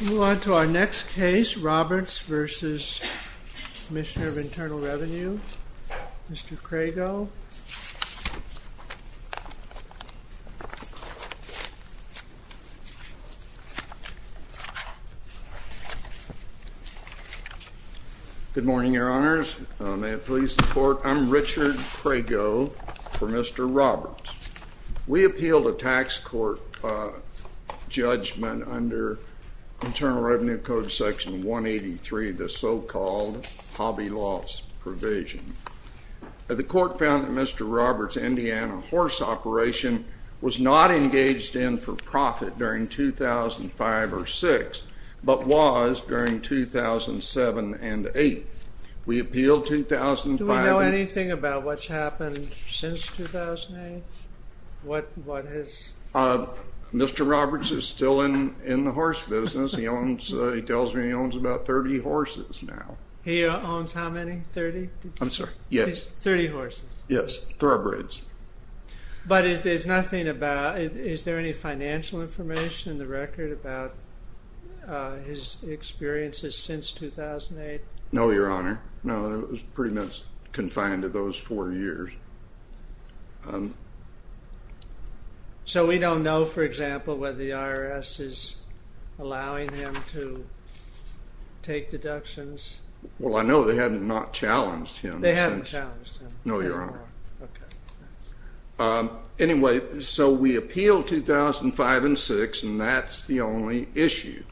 We'll move on to our next case, Roberts v. Commissioner of Internal Revenue, Mr. Crago. Good morning, Your Honors. May it please the Court, I'm Richard Crago for Mr. Roberts. We appeal the tax court judgment under Internal Revenue Code Section 183, the so-called Hobby Loss Provision. The court found that Mr. Roberts' Indiana horse operation was not engaged in for profit during 2005 or 2006, but was during 2007 and 2008. We appeal 2005 and 2008. Do we know anything about what's happened since 2008? What has? Mr. Roberts is still in the horse business. He tells me he owns about 30 horses now. He owns how many? 30? I'm sorry, yes. 30 horses? Yes, thoroughbreds. But is there any financial information in the record about his experiences since 2008? No, Your Honor. No, he was pretty much confined to those four years. So we don't know, for example, whether the IRS is allowing him to take deductions? Well, I know they have not challenged him. They haven't challenged him. No, Your Honor. Anyway, so we appeal 2005 and 2006, and that's the only issue.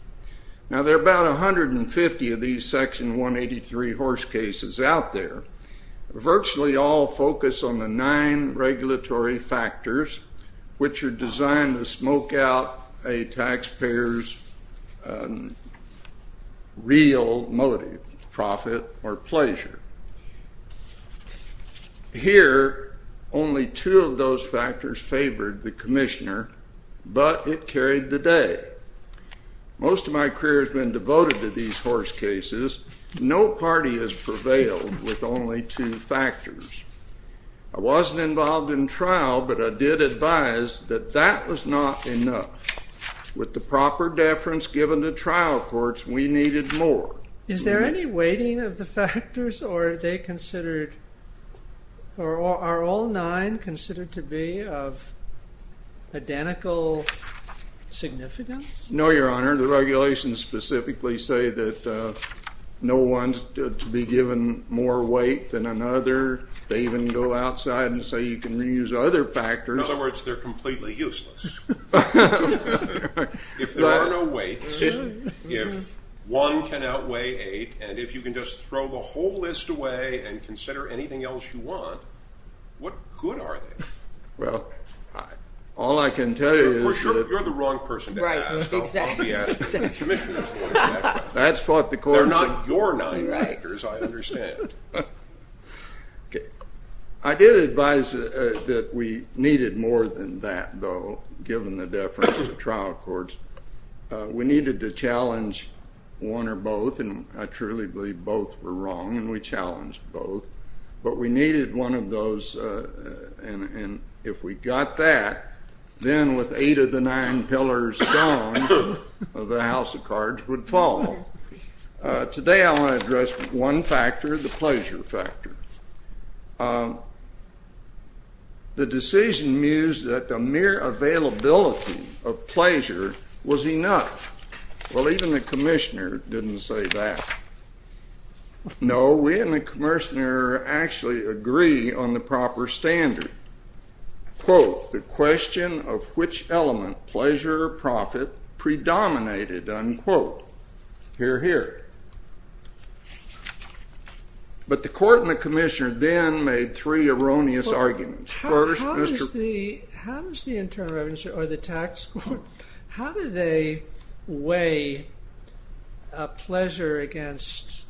Now, there are about 150 of these Section 183 horse cases out there. Virtually all focus on the nine regulatory factors, which are designed to smoke out a taxpayer's real motive, profit or pleasure. Here, only two of those factors favored the commissioner, but it carried the day. Most of my career has been devoted to these horse cases. No party has prevailed with only two factors. I wasn't involved in trial, but I did advise that that was not enough. With the proper deference given to trial courts, we needed more. Is there any weighting of the factors, or are all nine considered to be of identical significance? No, Your Honor. The regulations specifically say that no one's to be given more weight than another. They even go outside and say you can reuse other factors. In other words, they're completely useless. If there are no weights, if one can outweigh eight, and if you can just throw the whole list away and consider anything else you want, what good are they? Well, all I can tell you is that you're the wrong person to ask. I'll be asking the commissioners. That's what the court said. They're not your nine factors, I understand. I did advise that we needed more than that, though, given the deference of trial courts. We needed to challenge one or both, and I truly believe both were wrong, and we challenged both. But we needed one of those, and if we got that, then with eight of the nine pillars gone, the house of cards would fall. Today, I want to address one factor, the pleasure factor. The decision mused that the mere availability of pleasure was enough. Well, even the commissioner didn't say that. No, we and the commissioner actually agree on the proper standard. Quote, the question of which element, pleasure or profit, predominated, unquote. Hear, hear. But the court and the commissioner then made three erroneous arguments. First, Mr. How does the Internal Revenue, or the tax court, how do they weigh a pleasure against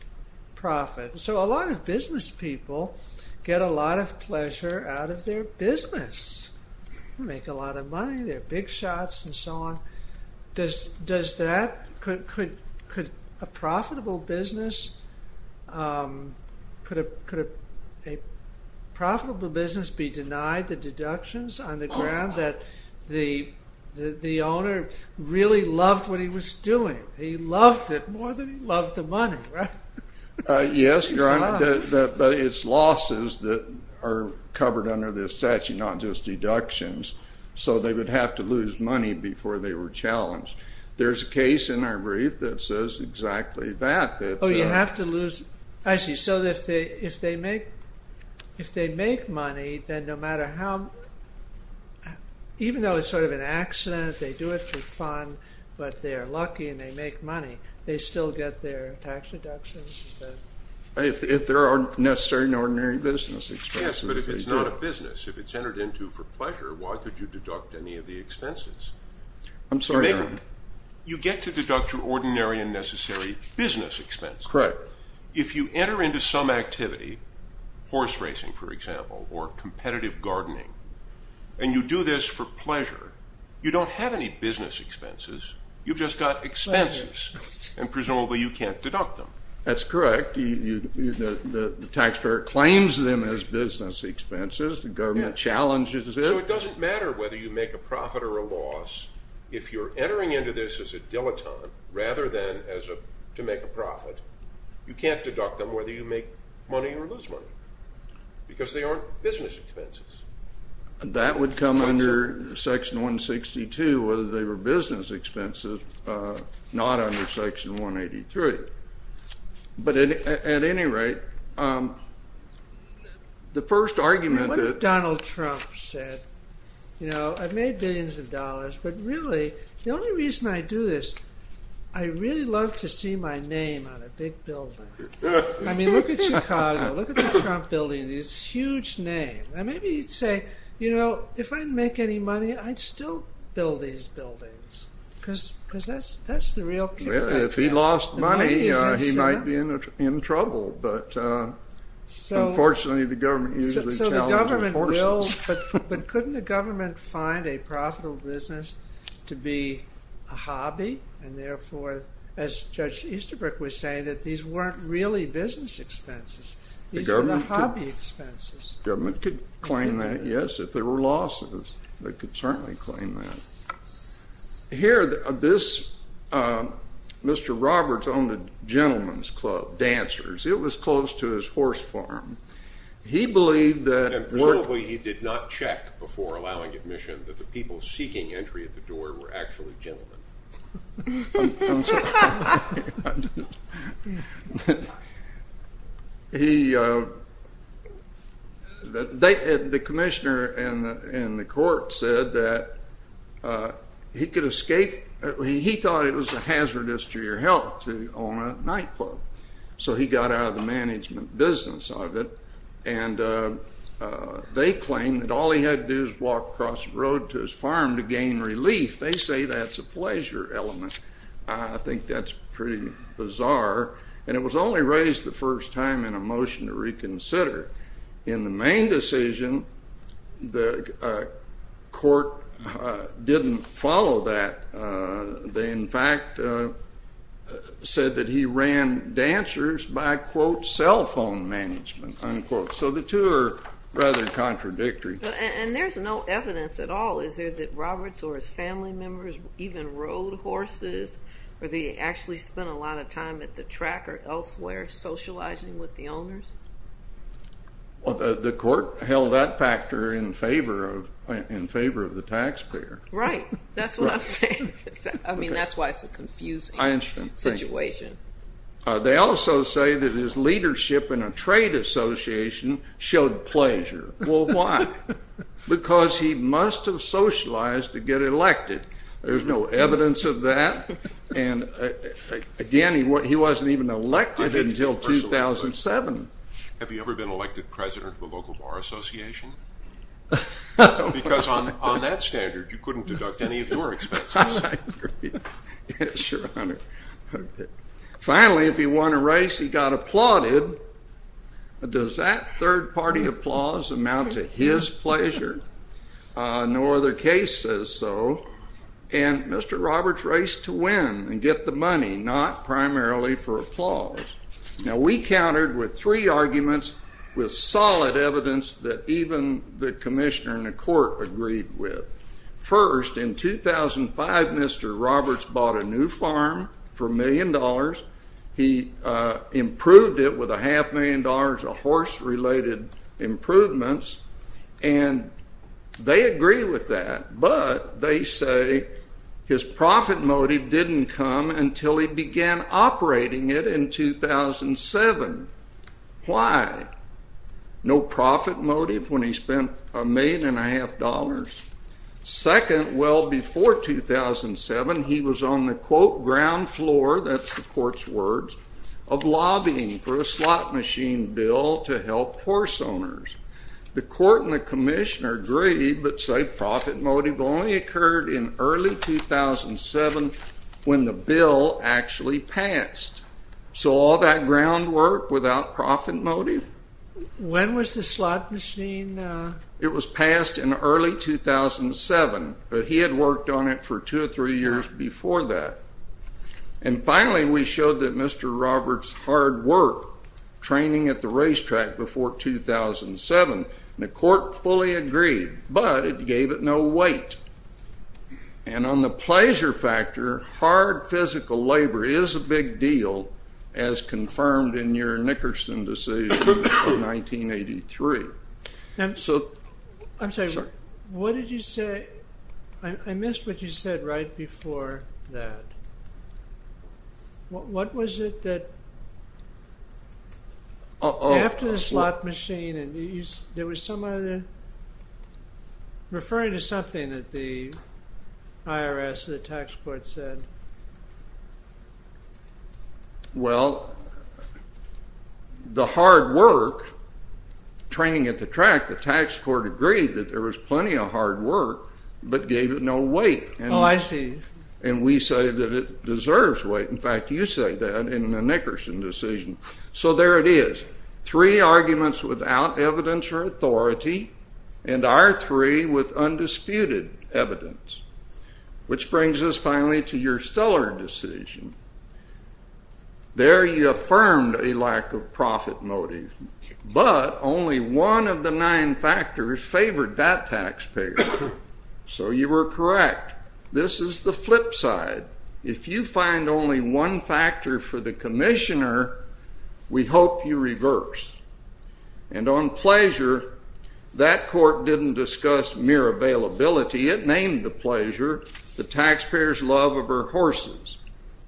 profit? So a lot of business people get a lot of pleasure out of their business. They make a lot of money, they have big shots, and so on. Does that, could a profitable business, could a profitable business be denied the deductions on the ground that the owner really loved what he was doing? He loved it more than he loved the money, right? Yes, Your Honor, but it's losses that are covered under this statute, not just deductions. So they would have to lose money before they were challenged. There's a case in our brief that says exactly that. Oh, you have to lose, I see. So if they make money, then no matter how, even though it's sort of an accident, they do it for fun, but they're lucky and they make money, they still get their tax deductions? If there are necessary and ordinary business expenses. Yes, but if it's not a business, if it's entered into for pleasure, why could you deduct any of the expenses? I'm sorry, Your Honor. You get to deduct your ordinary and necessary business expenses. Correct. If you enter into some activity, horse racing, for example, or competitive gardening, and you do this for pleasure, you don't have any business expenses. You've just got expenses, and presumably you can't deduct them. That's correct. The taxpayer claims them as business expenses. The government challenges it. So it doesn't matter whether you make a profit or a loss. If you're entering into this as a dilettante, rather than to make a profit, you can't deduct them whether you make money or lose money, because they aren't business expenses. That would come under Section 162, whether they were business expenses, not under Section 183. But at any rate, the first argument that Donald Trump said, I've made billions of dollars, but really, the only reason I do this, I really love to see my name on a big building. I mean, look at Chicago. Look at the Trump building, this huge name. And maybe he'd say, you know, if I make any money, I'd still build these buildings, because that's the real key. If he lost money, he might be in trouble. But unfortunately, the government usually challenges horses. But couldn't the government find a profitable business to be a hobby? And therefore, as Judge Easterbrook was saying, that these weren't really business expenses. These were the hobby expenses. The government could claim that, yes, if there were losses. They could certainly claim that. Here, this Mr. Roberts owned a gentleman's club, dancers. It was close to his horse farm. He believed that it worked. And reportedly, he did not check before allowing admission that the people seeking entry at the door were actually gentlemen. I'm sorry. The commissioner in the court said that he could escape. He thought it was a hazardous to your health to own a nightclub. So he got out of the management business of it. And they claimed that all he had to do is walk across the road to his farm to gain relief. They say that's a pleasure element. I think that's pretty bizarre. And it was only raised the first time in a motion to reconsider. In the main decision, the court didn't follow that. They, in fact, said that he ran dancers by, quote, cell phone management, unquote. So the two are rather contradictory. And there's no evidence at all. Is there that Roberts or his family members even rode horses? Or they actually spent a lot of time at the track or elsewhere socializing with the owners? The court held that factor in favor of the taxpayer. Right. That's what I'm saying. I mean, that's why it's a confusing situation. They also say that his leadership in a trade association showed pleasure. Well, why? Because he must have socialized to get elected. There's no evidence of that. And again, he wasn't even elected until 2007. Have you ever been elected president of a local bar association? No. Because on that standard, you couldn't deduct any of your expenses. Yes, your honor. Finally, if he won a race, he got applauded. Does that third party applause amount to his pleasure? No other case says so. And Mr. Roberts raced to win and get the money, not primarily for applause. Now, we countered with three arguments with solid evidence that even the commissioner and the court agreed with. First, in 2005, Mr. Roberts bought a new farm for a million dollars. He improved it with a half million dollars of horse-related improvements. And they agree with that, but they say his profit motive didn't come until he began operating it in 2007. Why? No profit motive when he spent a million and a half dollars? Second, well before 2007, he was on the quote, ground floor, that's the court's words, of lobbying for a slot machine bill to help horse owners. The court and the commissioner agreed, but say profit motive only occurred in early 2007 when the bill actually passed. So all that ground work without profit motive? When was the slot machine? It was passed in early 2007, but he had worked on it for two or three years before that. And finally, we showed that Mr. Roberts' hard work training at the racetrack before 2007, and the court fully agreed, but it gave it no weight. And on the pleasure factor, hard physical labor is a big deal, as confirmed in your Nickerson decision in 1983. I'm sorry, what did you say? I missed what you said right before that. What was it that, after the slot machine, and there was some other, referring to something that the IRS and the tax court said? Well, the hard work training at the track, the tax court agreed that there was plenty of hard work, but gave it no weight. Oh, I see. And we say that it deserves weight. In fact, you say that in the Nickerson decision. So there it is. Three arguments without evidence or authority, and our three with undisputed evidence, which brings us finally to your Stuller decision. There you affirmed a lack of profit motive, but only one of the nine factors favored that taxpayer. So you were correct. This is the flip side. If you find only one factor for the commissioner, we hope you reverse. And on pleasure, that court didn't discuss mere availability. It named the pleasure the taxpayer's love of her horses.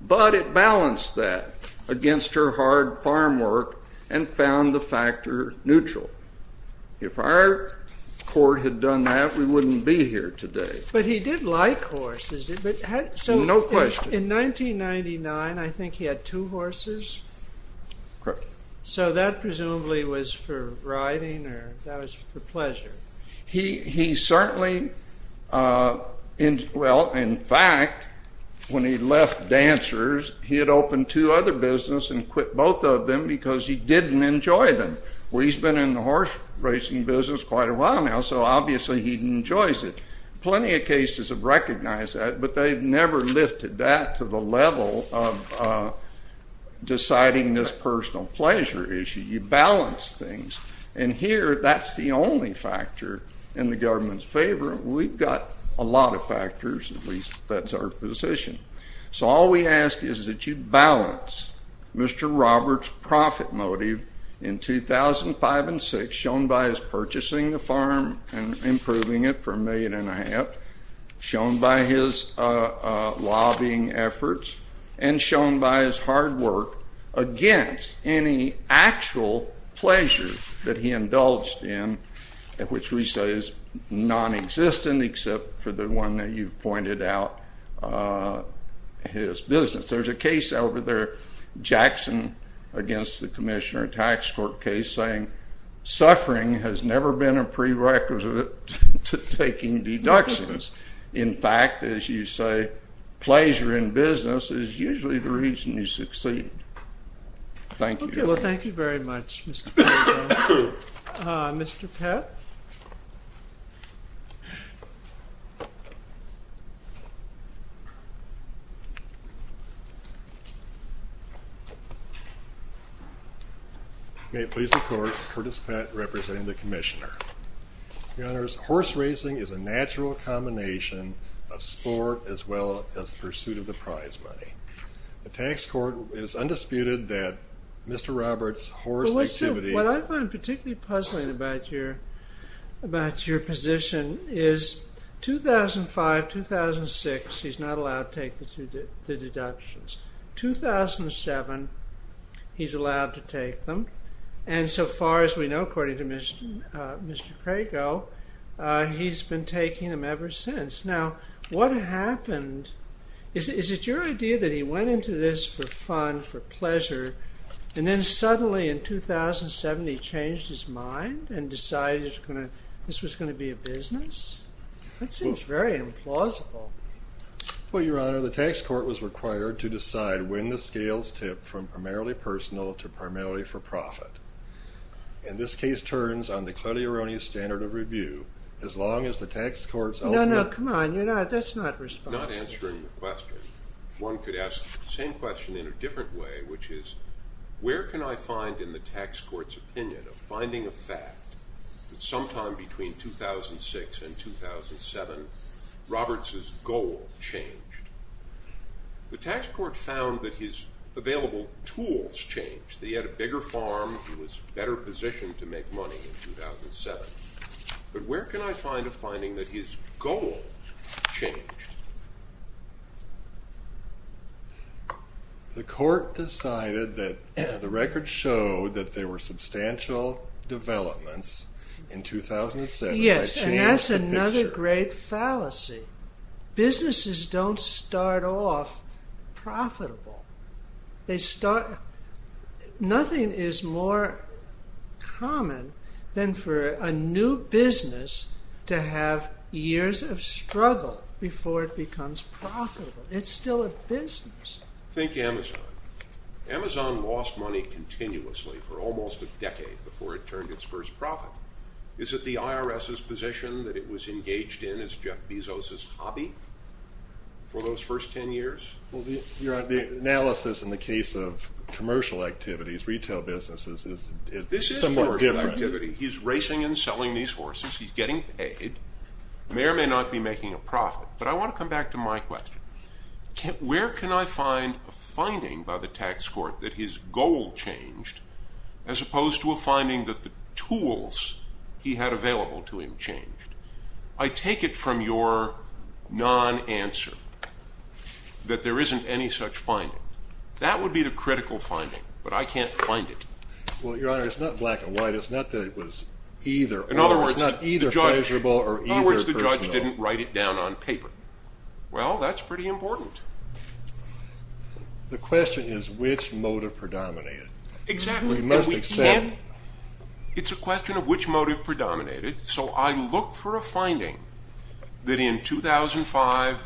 But it balanced that against her hard farm work and found the factor neutral. If our court had done that, we wouldn't be here today. But he did like horses. No question. In 1999, I think he had two horses. Correct. So that presumably was for riding, or that was for pleasure? He certainly, well, in fact, when he left dancers, he had opened two other business and quit both of them because he didn't enjoy them. Well, he's been in the horse racing business quite a while now, so obviously he enjoys it. Plenty of cases have recognized that, but they've never lifted that to the level of deciding this personal pleasure issue. You balance things. And here, that's the only factor in the government's favor. We've got a lot of factors, at least that's our position. So all we ask is that you balance Mr. Roberts' profit motive in 2005 and 2006, shown by his purchasing the farm and improving it for a million and a half, shown by his lobbying efforts, and shown by his hard work against any actual pleasure that he indulged in, which we say is nonexistent, except for the one that you've pointed out, his business. There's a case over there, Jackson against the commissioner, a tax court case, saying suffering has never been a prerequisite to taking deductions. In fact, as you say, pleasure in business is usually the reason you succeed. Thank you. Well, thank you very much, Mr. Pagano. Mr. Pett? May it please the court, Curtis Pett representing the commissioner. Your honors, horse racing is a natural combination of sport as well as pursuit of the prize money. The tax court is undisputed that Mr. Roberts' horse activity- What I find particularly puzzling about your position is 2005, 2006, he's not allowed to take the deductions. 2007, he's allowed to take them. And so far as we know, according to Mr. Crago, he's been taking them ever since. Now, what happened? Is it your idea that he went into this for fun, for pleasure, and then suddenly in 2007, he changed his mind and decided this was going to be a business? That seems very implausible. Well, your honor, the tax court was required to decide when the scales tipped from primarily personal to primarily for profit. And this case turns on the clearly erroneous standard of review, as long as the tax court's ultimate- No, no, come on, you're not- that's not responsible. Not answering the question. One could ask the same question in a different way, which is, where can I find in the tax court's opinion of finding a fact that sometime between 2006 and 2007, Roberts' goal changed? The tax court found that his available tools changed, that he had a bigger farm, he was better positioned to make money in 2007. But where can I find a finding that his goal changed? The court decided that the records showed that there were substantial developments in 2007- Yes, and that's another great fallacy. Businesses don't start off profitable. They start- nothing is more common than for a new business to have years of struggle before it becomes profitable. It's still a business. Think Amazon. Amazon lost money continuously for almost a decade before it turned its first profit. Is it the IRS's position that it was engaged in, as Jeff Bezos' hobby, for those first 10 years? Well, the analysis in the case of commercial activities, retail businesses, is somewhat different. This is commercial activity. He's racing and selling these horses. He's getting paid. The mayor may not be making a profit. But I want to come back to my question. Where can I find a finding by the tax court that his goal changed, as opposed to a finding that the tools he had available to him changed? I take it from your non-answer that there isn't any such finding. That would be the critical finding. But I can't find it. Well, Your Honor, it's not black and white. It's not that it was either or. In other words, the judge didn't write it down on paper. Well, that's pretty important. The question is, which motive predominated? Exactly. It's a question of which motive predominated. So I look for a finding that in 2005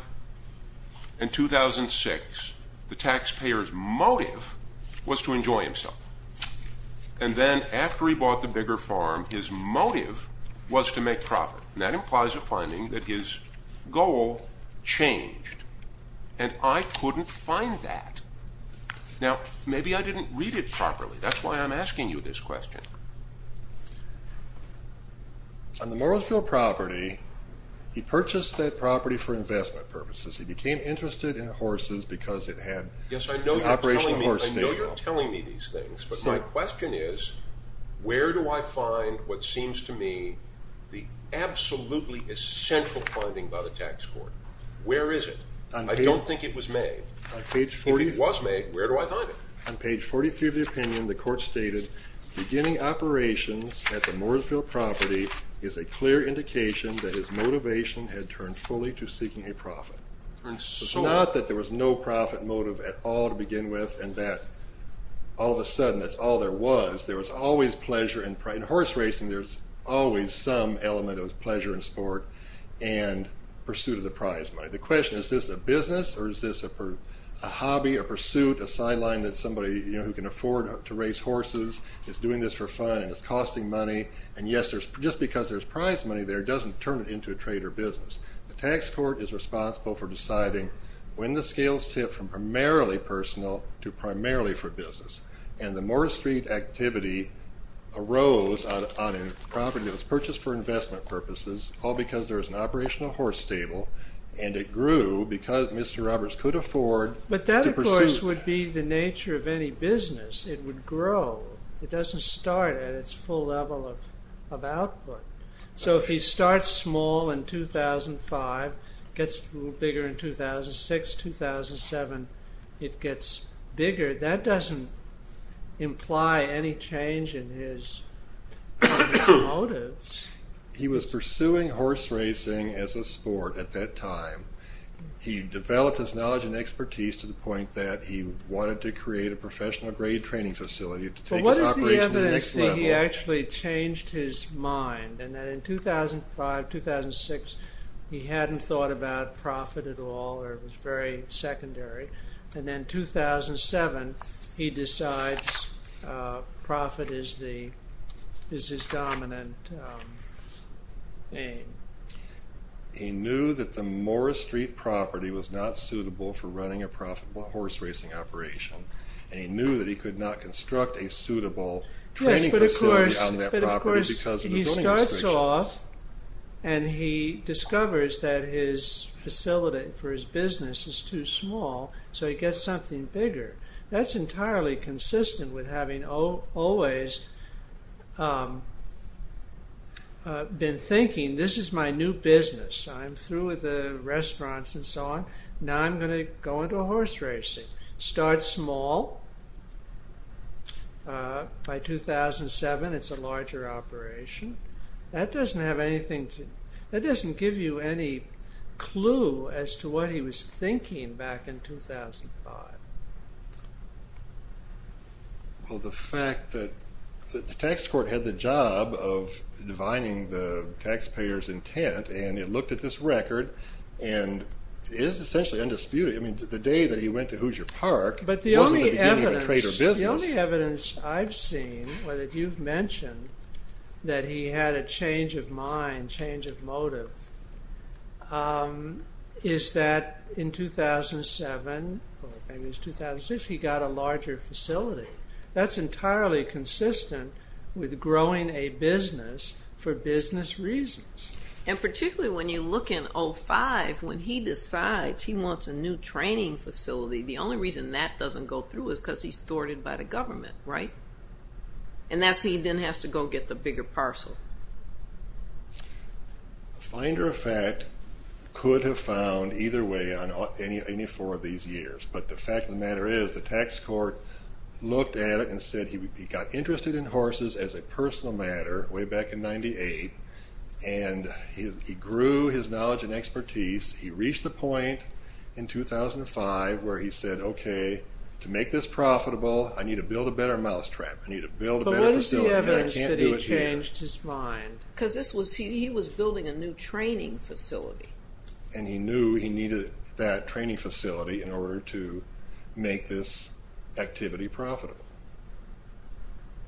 and 2006, the taxpayer's motive was to enjoy himself. And then after he bought the bigger farm, his motive was to make profit. And that implies a finding that his goal changed. And I couldn't find that. Now, maybe I didn't read it properly. That's why I'm asking you this question. On the Morrisville property, he purchased that property for investment purposes. He became interested in horses because it had an operational horse stable. Yes, I know you're telling me these things. But my question is, where do I find what seems to me the absolutely essential finding by the tax court? Where is it? I don't think it was made. If it was made, where do I find it? On page 43 of the opinion, the court stated, beginning operations at the Morrisville property is a clear indication that his motivation had turned fully to seeking a profit. It's not that there was no profit motive at all to begin with, and that all of a sudden, that's all there was. There was always pleasure in horse racing. There's always some element of pleasure in sport and pursuit of the prize money. The question is, is this a business? Or is this a hobby, a pursuit, a sideline that somebody who can afford to race horses is doing this for fun, and it's costing money? And yes, just because there's prize money there doesn't turn it into a trade or business. The tax court is responsible for deciding when the scales tip from primarily personal to primarily for business. And the Morris Street activity arose on a property that was purchased for investment purposes, all because there was an operational horse stable. And it grew because Mr. Roberts could afford to pursue. A horse would be the nature of any business. It would grow. It doesn't start at its full level of output. So if he starts small in 2005, gets a little bigger in 2006, 2007, it gets bigger. That doesn't imply any change in his motives. He was pursuing horse racing as a sport at that time. He developed his knowledge and expertise to the point that he wanted to create a professional grade training facility to take his operation to the next level. But what is the evidence that he actually changed his mind? And that in 2005, 2006, he hadn't thought about profit at all, or it was very secondary. And then 2007, he decides profit is his dominant aim. He knew that the Morris Street property was not a profitable horse racing operation. And he knew that he could not construct a suitable training facility on that property because of the zoning restrictions. Yes, but of course, he starts off and he discovers that his facility for his business is too small. So he gets something bigger. That's entirely consistent with having always been thinking, this is my new business. I'm through with the restaurants and so on. Now I'm going to go into horse racing. Start small. By 2007, it's a larger operation. That doesn't have anything to, that doesn't give you any clue as to what he was thinking back in 2005. Well, the fact that the tax court had the job of defining the taxpayer's intent, and it looked at this record, and is essentially undisputed. I mean, the day that he went to Hoosier Park, it wasn't the beginning of a trader business. But the only evidence I've seen, whether you've mentioned that he had a change of mind, change of motive, is that in 2007, or maybe it was 2006, he got a larger facility. That's entirely consistent with growing a business for business reasons. And particularly when you look in 05, when he decides he wants a new training facility, the only reason that doesn't go through is because he's thwarted by the government, right? And that's he then has to go get the bigger parcel. A finder of fact could have found either way on any four of these years. But the fact of the matter is, the tax court looked at it and said he got interested in horses as a personal matter way back in 98. And he grew his knowledge and expertise. He reached the point in 2005 where he said, OK, to make this profitable, I need to build a better mousetrap. I need to build a better facility. But what is the evidence that he changed his mind? Because he was building a new training facility. And he knew he needed that training facility in order to make this activity profitable.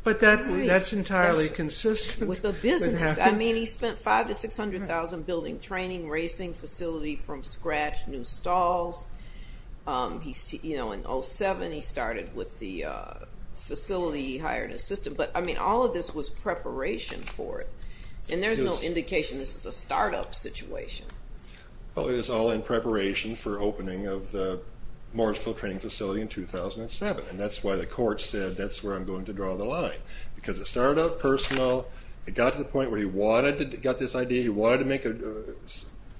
But that's entirely consistent. With the business. I mean, he spent $500,000 to $600,000 building training, racing facility from scratch, new stalls. In 07, he started with the facility he hired and assisted. But I mean, all of this was preparation for it. And there's no indication this is a startup situation. Well, it was all in preparation for opening of the Morrisville Training Facility in 2007. And that's why the court said, that's where I'm going to draw the line. Because it started out personal. It got to the point where he got this idea. He wanted to make a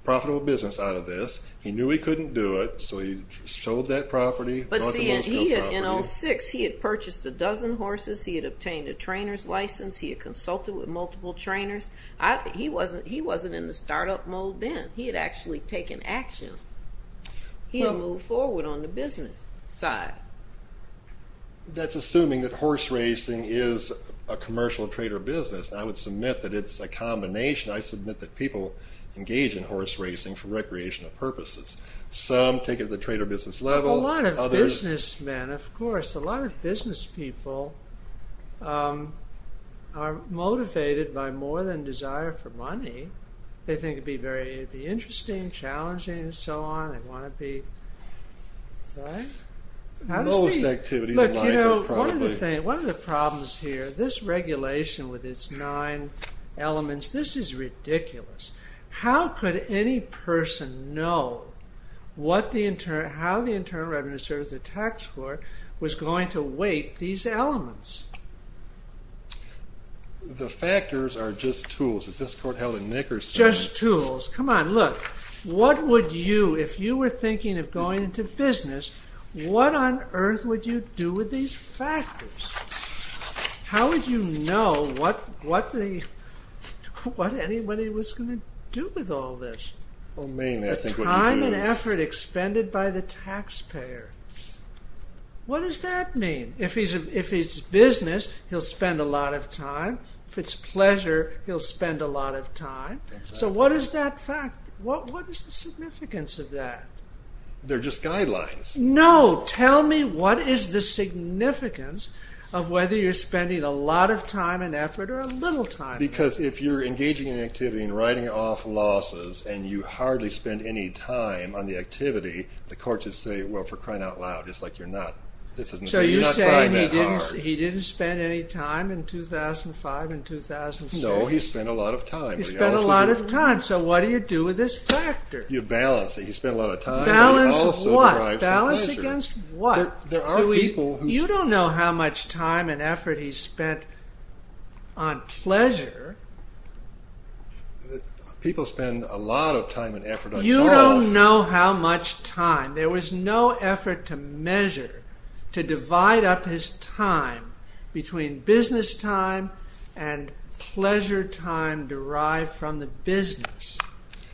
profitable business out of this. He knew he couldn't do it. So he sold that property. But see, in 06, he had purchased a dozen horses. He had obtained a trainer's license. He had consulted with multiple trainers. He wasn't in the startup mold then. He had actually taken action. He had moved forward on the business side. That's assuming that horse racing is a commercial trade or business. And I would submit that it's a combination. I submit that people engage in horse racing for recreational purposes. Some take it at the trade or business level. A lot of businessmen, of course, a lot of business people are motivated by more than desire for money. They think it'd be very interesting, challenging, and so on. They want to be, right? Most activities in life are probably. One of the problems here, this regulation with its nine elements, this is ridiculous. How could any person know how the Internal Revenue Service, the tax court, was going to weight these elements? The factors are just tools. Is this court held in Nickerson? Just tools. Come on, look. What would you, if you were thinking of going into business, what on earth would you do with these factors? How would you know what anybody was going to do with all this? Well, mainly, I think what he would do is. The time and effort expended by the taxpayer. What does that mean? If it's business, he'll spend a lot of time. If it's pleasure, he'll spend a lot of time. So what is that fact? What is the significance of that? They're just guidelines. No, tell me what is the significance of whether you're spending a lot of time and effort or a little time. Because if you're engaging in an activity and writing off losses and you hardly spend any time on the activity, the courts would say, well, for crying out loud, it's like you're not trying that hard. He didn't spend any time in 2005 and 2006. No, he spent a lot of time. He spent a lot of time. So what do you do with this factor? You balance it. He spent a lot of time. Balance what? Balance against what? You don't know how much time and effort he spent on pleasure. People spend a lot of time and effort on cost. You don't know how much time. There was no effort to measure, to divide up his time between business time and pleasure time derived from the business.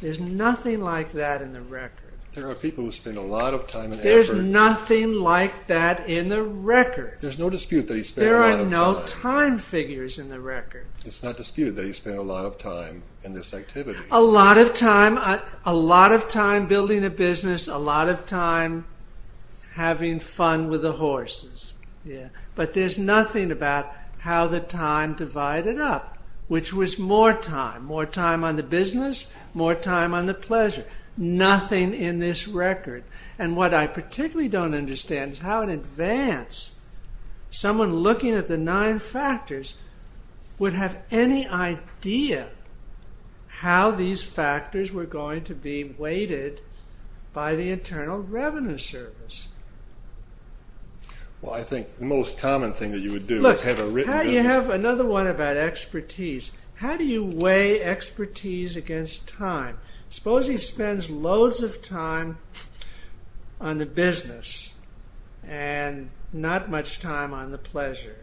There's nothing like that in the record. There are people who spend a lot of time and effort. There's nothing like that in the record. There's no dispute that he spent a lot of time. There are no time figures in the record. It's not disputed that he spent a lot of time in this activity. A lot of time. A lot of time building a business. A lot of time having fun with the horses. But there's nothing about how the time divided up, which was more time. More time on the business. More time on the pleasure. Nothing in this record. And what I particularly don't understand is how in advance someone looking at the nine factors would have any idea how these factors were going to be weighted by the Internal Revenue Service. Well, I think the most common thing that you would do is have a written business. Look, you have another one about expertise. How do you weigh expertise against time? Suppose he spends loads of time on the business and not much time on the pleasure.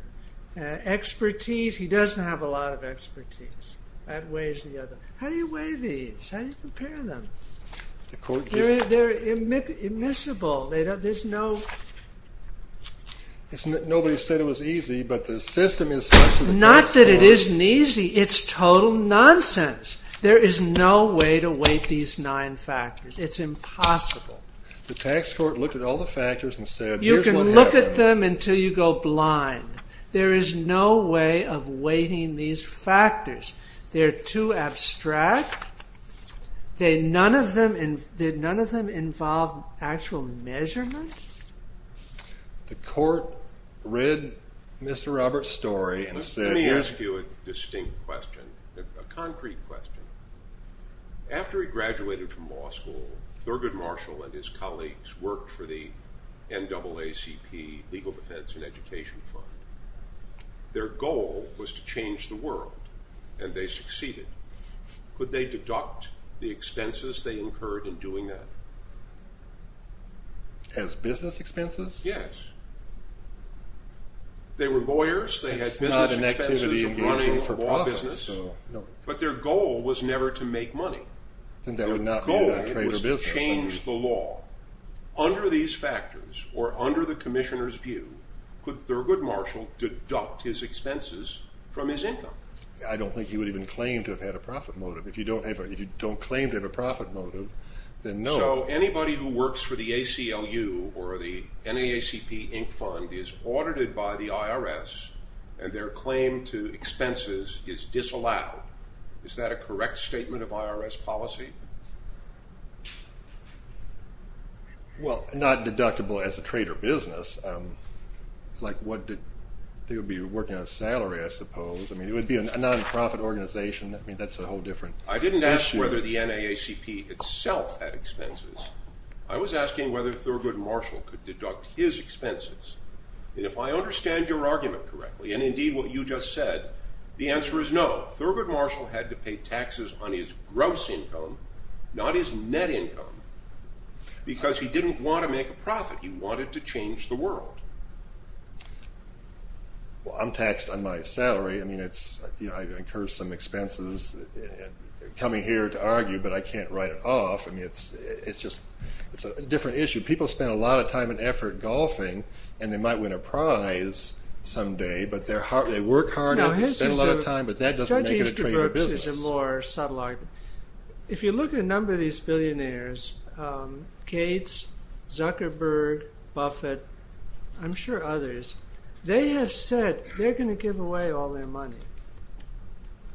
Expertise, he doesn't have a lot of expertise. That weighs the other. How do you weigh these? How do you compare them? They're immiscible. There's no. Nobody said it was easy, but the system is such that it is. Not that it isn't easy. It's total nonsense. There is no way to weight these nine factors. It's impossible. The tax court looked at all the factors and said, here's what happened. You can look at them until you go blind. There is no way of weighting these factors. They're too abstract. None of them involve actual measurement. The court read Mr. Roberts' story and said, Let me ask you a distinct question, a concrete question. After he graduated from law school, Thurgood Marshall and his colleagues worked for the NAACP Legal Defense and Education Fund. Their goal was to change the world, and they succeeded. Could they deduct the expenses they incurred in doing that? As business expenses? Yes. They were lawyers. They had business expenses of running a law business. But their goal was never to make money. Their goal was to change the law. Under these factors, or under the commissioner's view, could Thurgood Marshall deduct his expenses from his income? I don't think he would even claim to have had a profit motive. If you don't claim to have a profit motive, then no. So anybody who works for the ACLU or the NAACP Inc. Fund is audited by the IRS, and their claim to expenses is disallowed. Is that a correct statement of IRS policy? Well, not deductible as a trade or business. Like, they would be working on salary, I suppose. I mean, it would be a non-profit organization. I mean, that's a whole different issue. I didn't ask whether the NAACP itself had expenses. I was asking whether Thurgood Marshall could deduct his expenses. And if I understand your argument correctly, and indeed what you just said, the answer is no. Thurgood Marshall had to pay taxes on his gross income not his net income, because he didn't want to make a profit. He wanted to change the world. Well, I'm taxed on my salary. I mean, I incur some expenses coming here to argue, but I can't write it off. I mean, it's just a different issue. People spend a lot of time and effort golfing, and they might win a prize someday. But they work hard, and they spend a lot of time, but that doesn't make it a trade or business. This is a more subtle argument. If you look at a number of these billionaires, Gates, Zuckerberg, Buffett, I'm sure others, they have said they're going to give away all their money.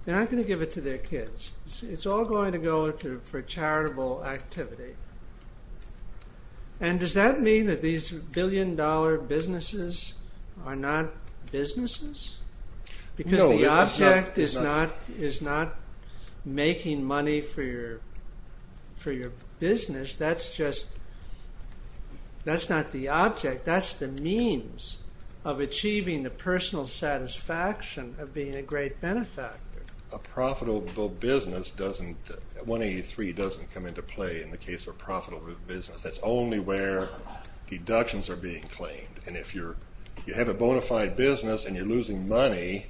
They're not going to give it to their kids. It's all going to go for charitable activity. And does that mean that these billion dollar businesses are not businesses? Because the object is not making money for your business. That's just, that's not the object. That's the means of achieving the personal satisfaction of being a great benefactor. A profitable business doesn't, 183 doesn't come into play in the case of a profitable business. That's only where deductions are being claimed. And if you have a bona fide business, and you're losing money,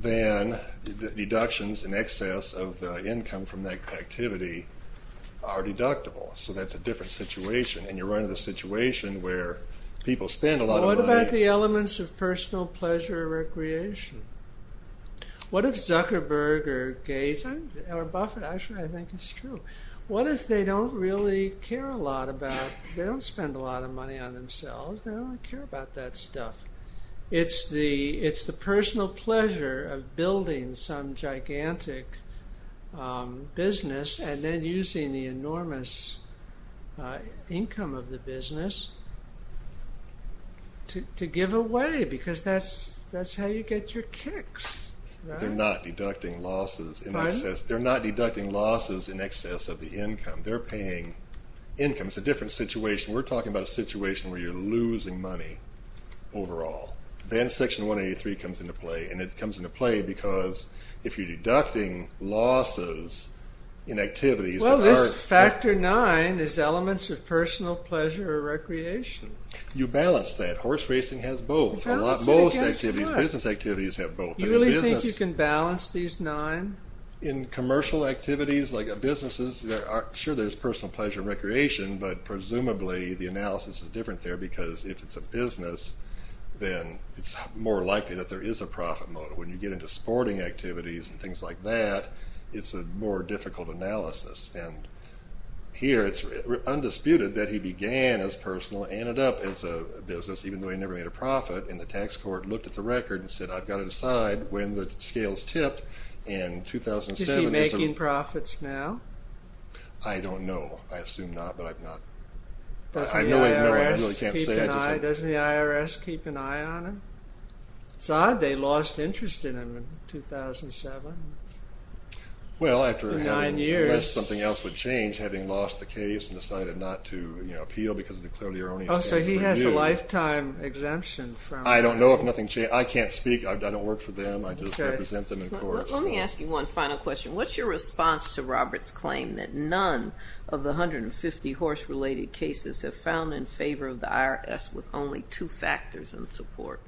then the deductions in excess of the income from that activity are deductible. So that's a different situation. And you're running into a situation where people spend a lot of money. What about the elements of personal pleasure recreation? What if Zuckerberg or Gates or Buffett, actually I think it's true, what if they don't really care a lot about, they don't spend a lot of money on themselves, they don't care about that stuff. It's the personal pleasure of building some gigantic business and then using the enormous income of the business to give away, because that's how you get your kicks, right? They're not deducting losses in excess. They're not deducting losses in excess of the income. They're paying income. It's a different situation. We're talking about a situation where you're losing money overall. Then section 183 comes into play. And it comes into play because if you're deducting losses in activities that aren't- Well, this factor nine is elements of personal pleasure recreation. You balance that. Horse racing has both. A lot, most activities, business activities have both. You really think you can balance these nine? In commercial activities, like businesses, sure there's personal pleasure recreation, but presumably the analysis is different there because if it's a business, then it's more likely that there is a profit motive. When you get into sporting activities and things like that, it's a more difficult analysis. And here it's undisputed that he began as personal, ended up as a business, even though he never made a profit. And the tax court looked at the record and said, I've got to decide when the scales tipped. In 2007- Is he making profits now? I don't know. I assume not, but I've not... I really can't say. Doesn't the IRS keep an eye on him? It's odd, they lost interest in him in 2007. Well, after having- Nine years. Unless something else would change, having lost the case and decided not to appeal because of the clarity or only- Oh, so he has a lifetime exemption from- I don't know if nothing changed. I can't speak. I don't work for them. I just represent them in courts. Let me ask you one final question. What's your response to Robert's claim that none of the 150 horse-related cases have found in favor of the IRS with only two factors in support?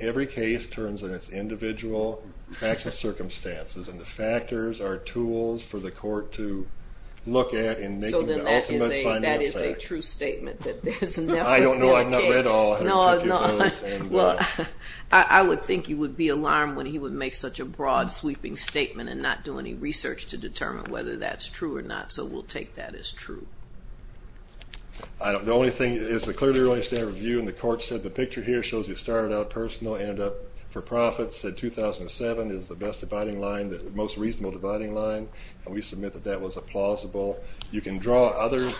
Every case turns on its individual facts and circumstances and the factors are tools for the court to look at in making the ultimate- So then that is a true statement that there's never been a case- I don't know. I've not read all 150 of those and- Well, I would think you would be alarmed when he would make such a broad sweeping statement and not do any research to determine whether that's true or not, so we'll take that as true. The only thing is the clearly-running standard review and the court said, the picture here shows you started out personal, ended up for profit, said 2007 is the best dividing line, most reasonable dividing line, and we submit that that was a plausible. You can draw other,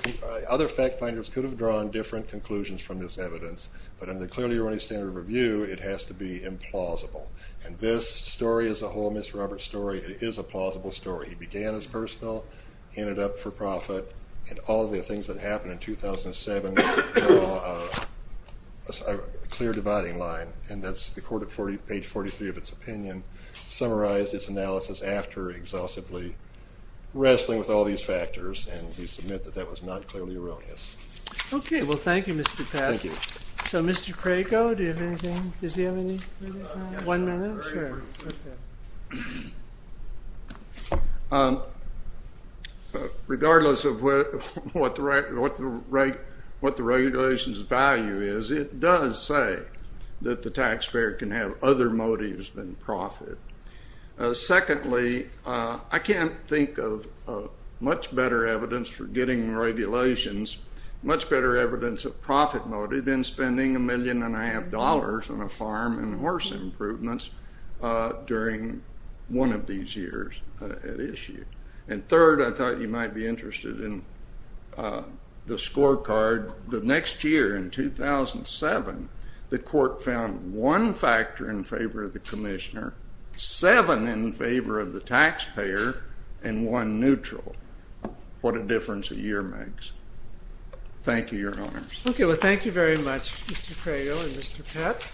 other fact finders could have drawn different conclusions from this evidence, but in the clearly-running standard review, it has to be implausible. And this story as a whole, Ms. Roberts' story, it is a plausible story. He began as personal, ended up for profit, and all the things that happened in 2007 draw a clear dividing line, and that's the court at page 43 of its opinion summarized its analysis after exhaustively wrestling with all these factors, and we submit that that was not clearly erroneous. Okay, well thank you, Mr. Pat. Thank you. So Mr. Crago, do you have anything? Does he have any? One minute? Sure, okay. Regardless of what the regulations value is, it does say that the taxpayer can have other motives than profit. Secondly, I can't think of much better evidence for getting regulations, much better evidence of profit motive than spending a million and a half dollars on a farm and horse improvements during one of these years at issue. And third, I thought you might be interested in the scorecard. The next year, in 2007, the court found one factor in favor of the commissioner, seven in favor of the taxpayer, and one neutral. What a difference a year makes. Thank you, Your Honors. Okay, well thank you very much, Mr. Crago and Mr. Pat.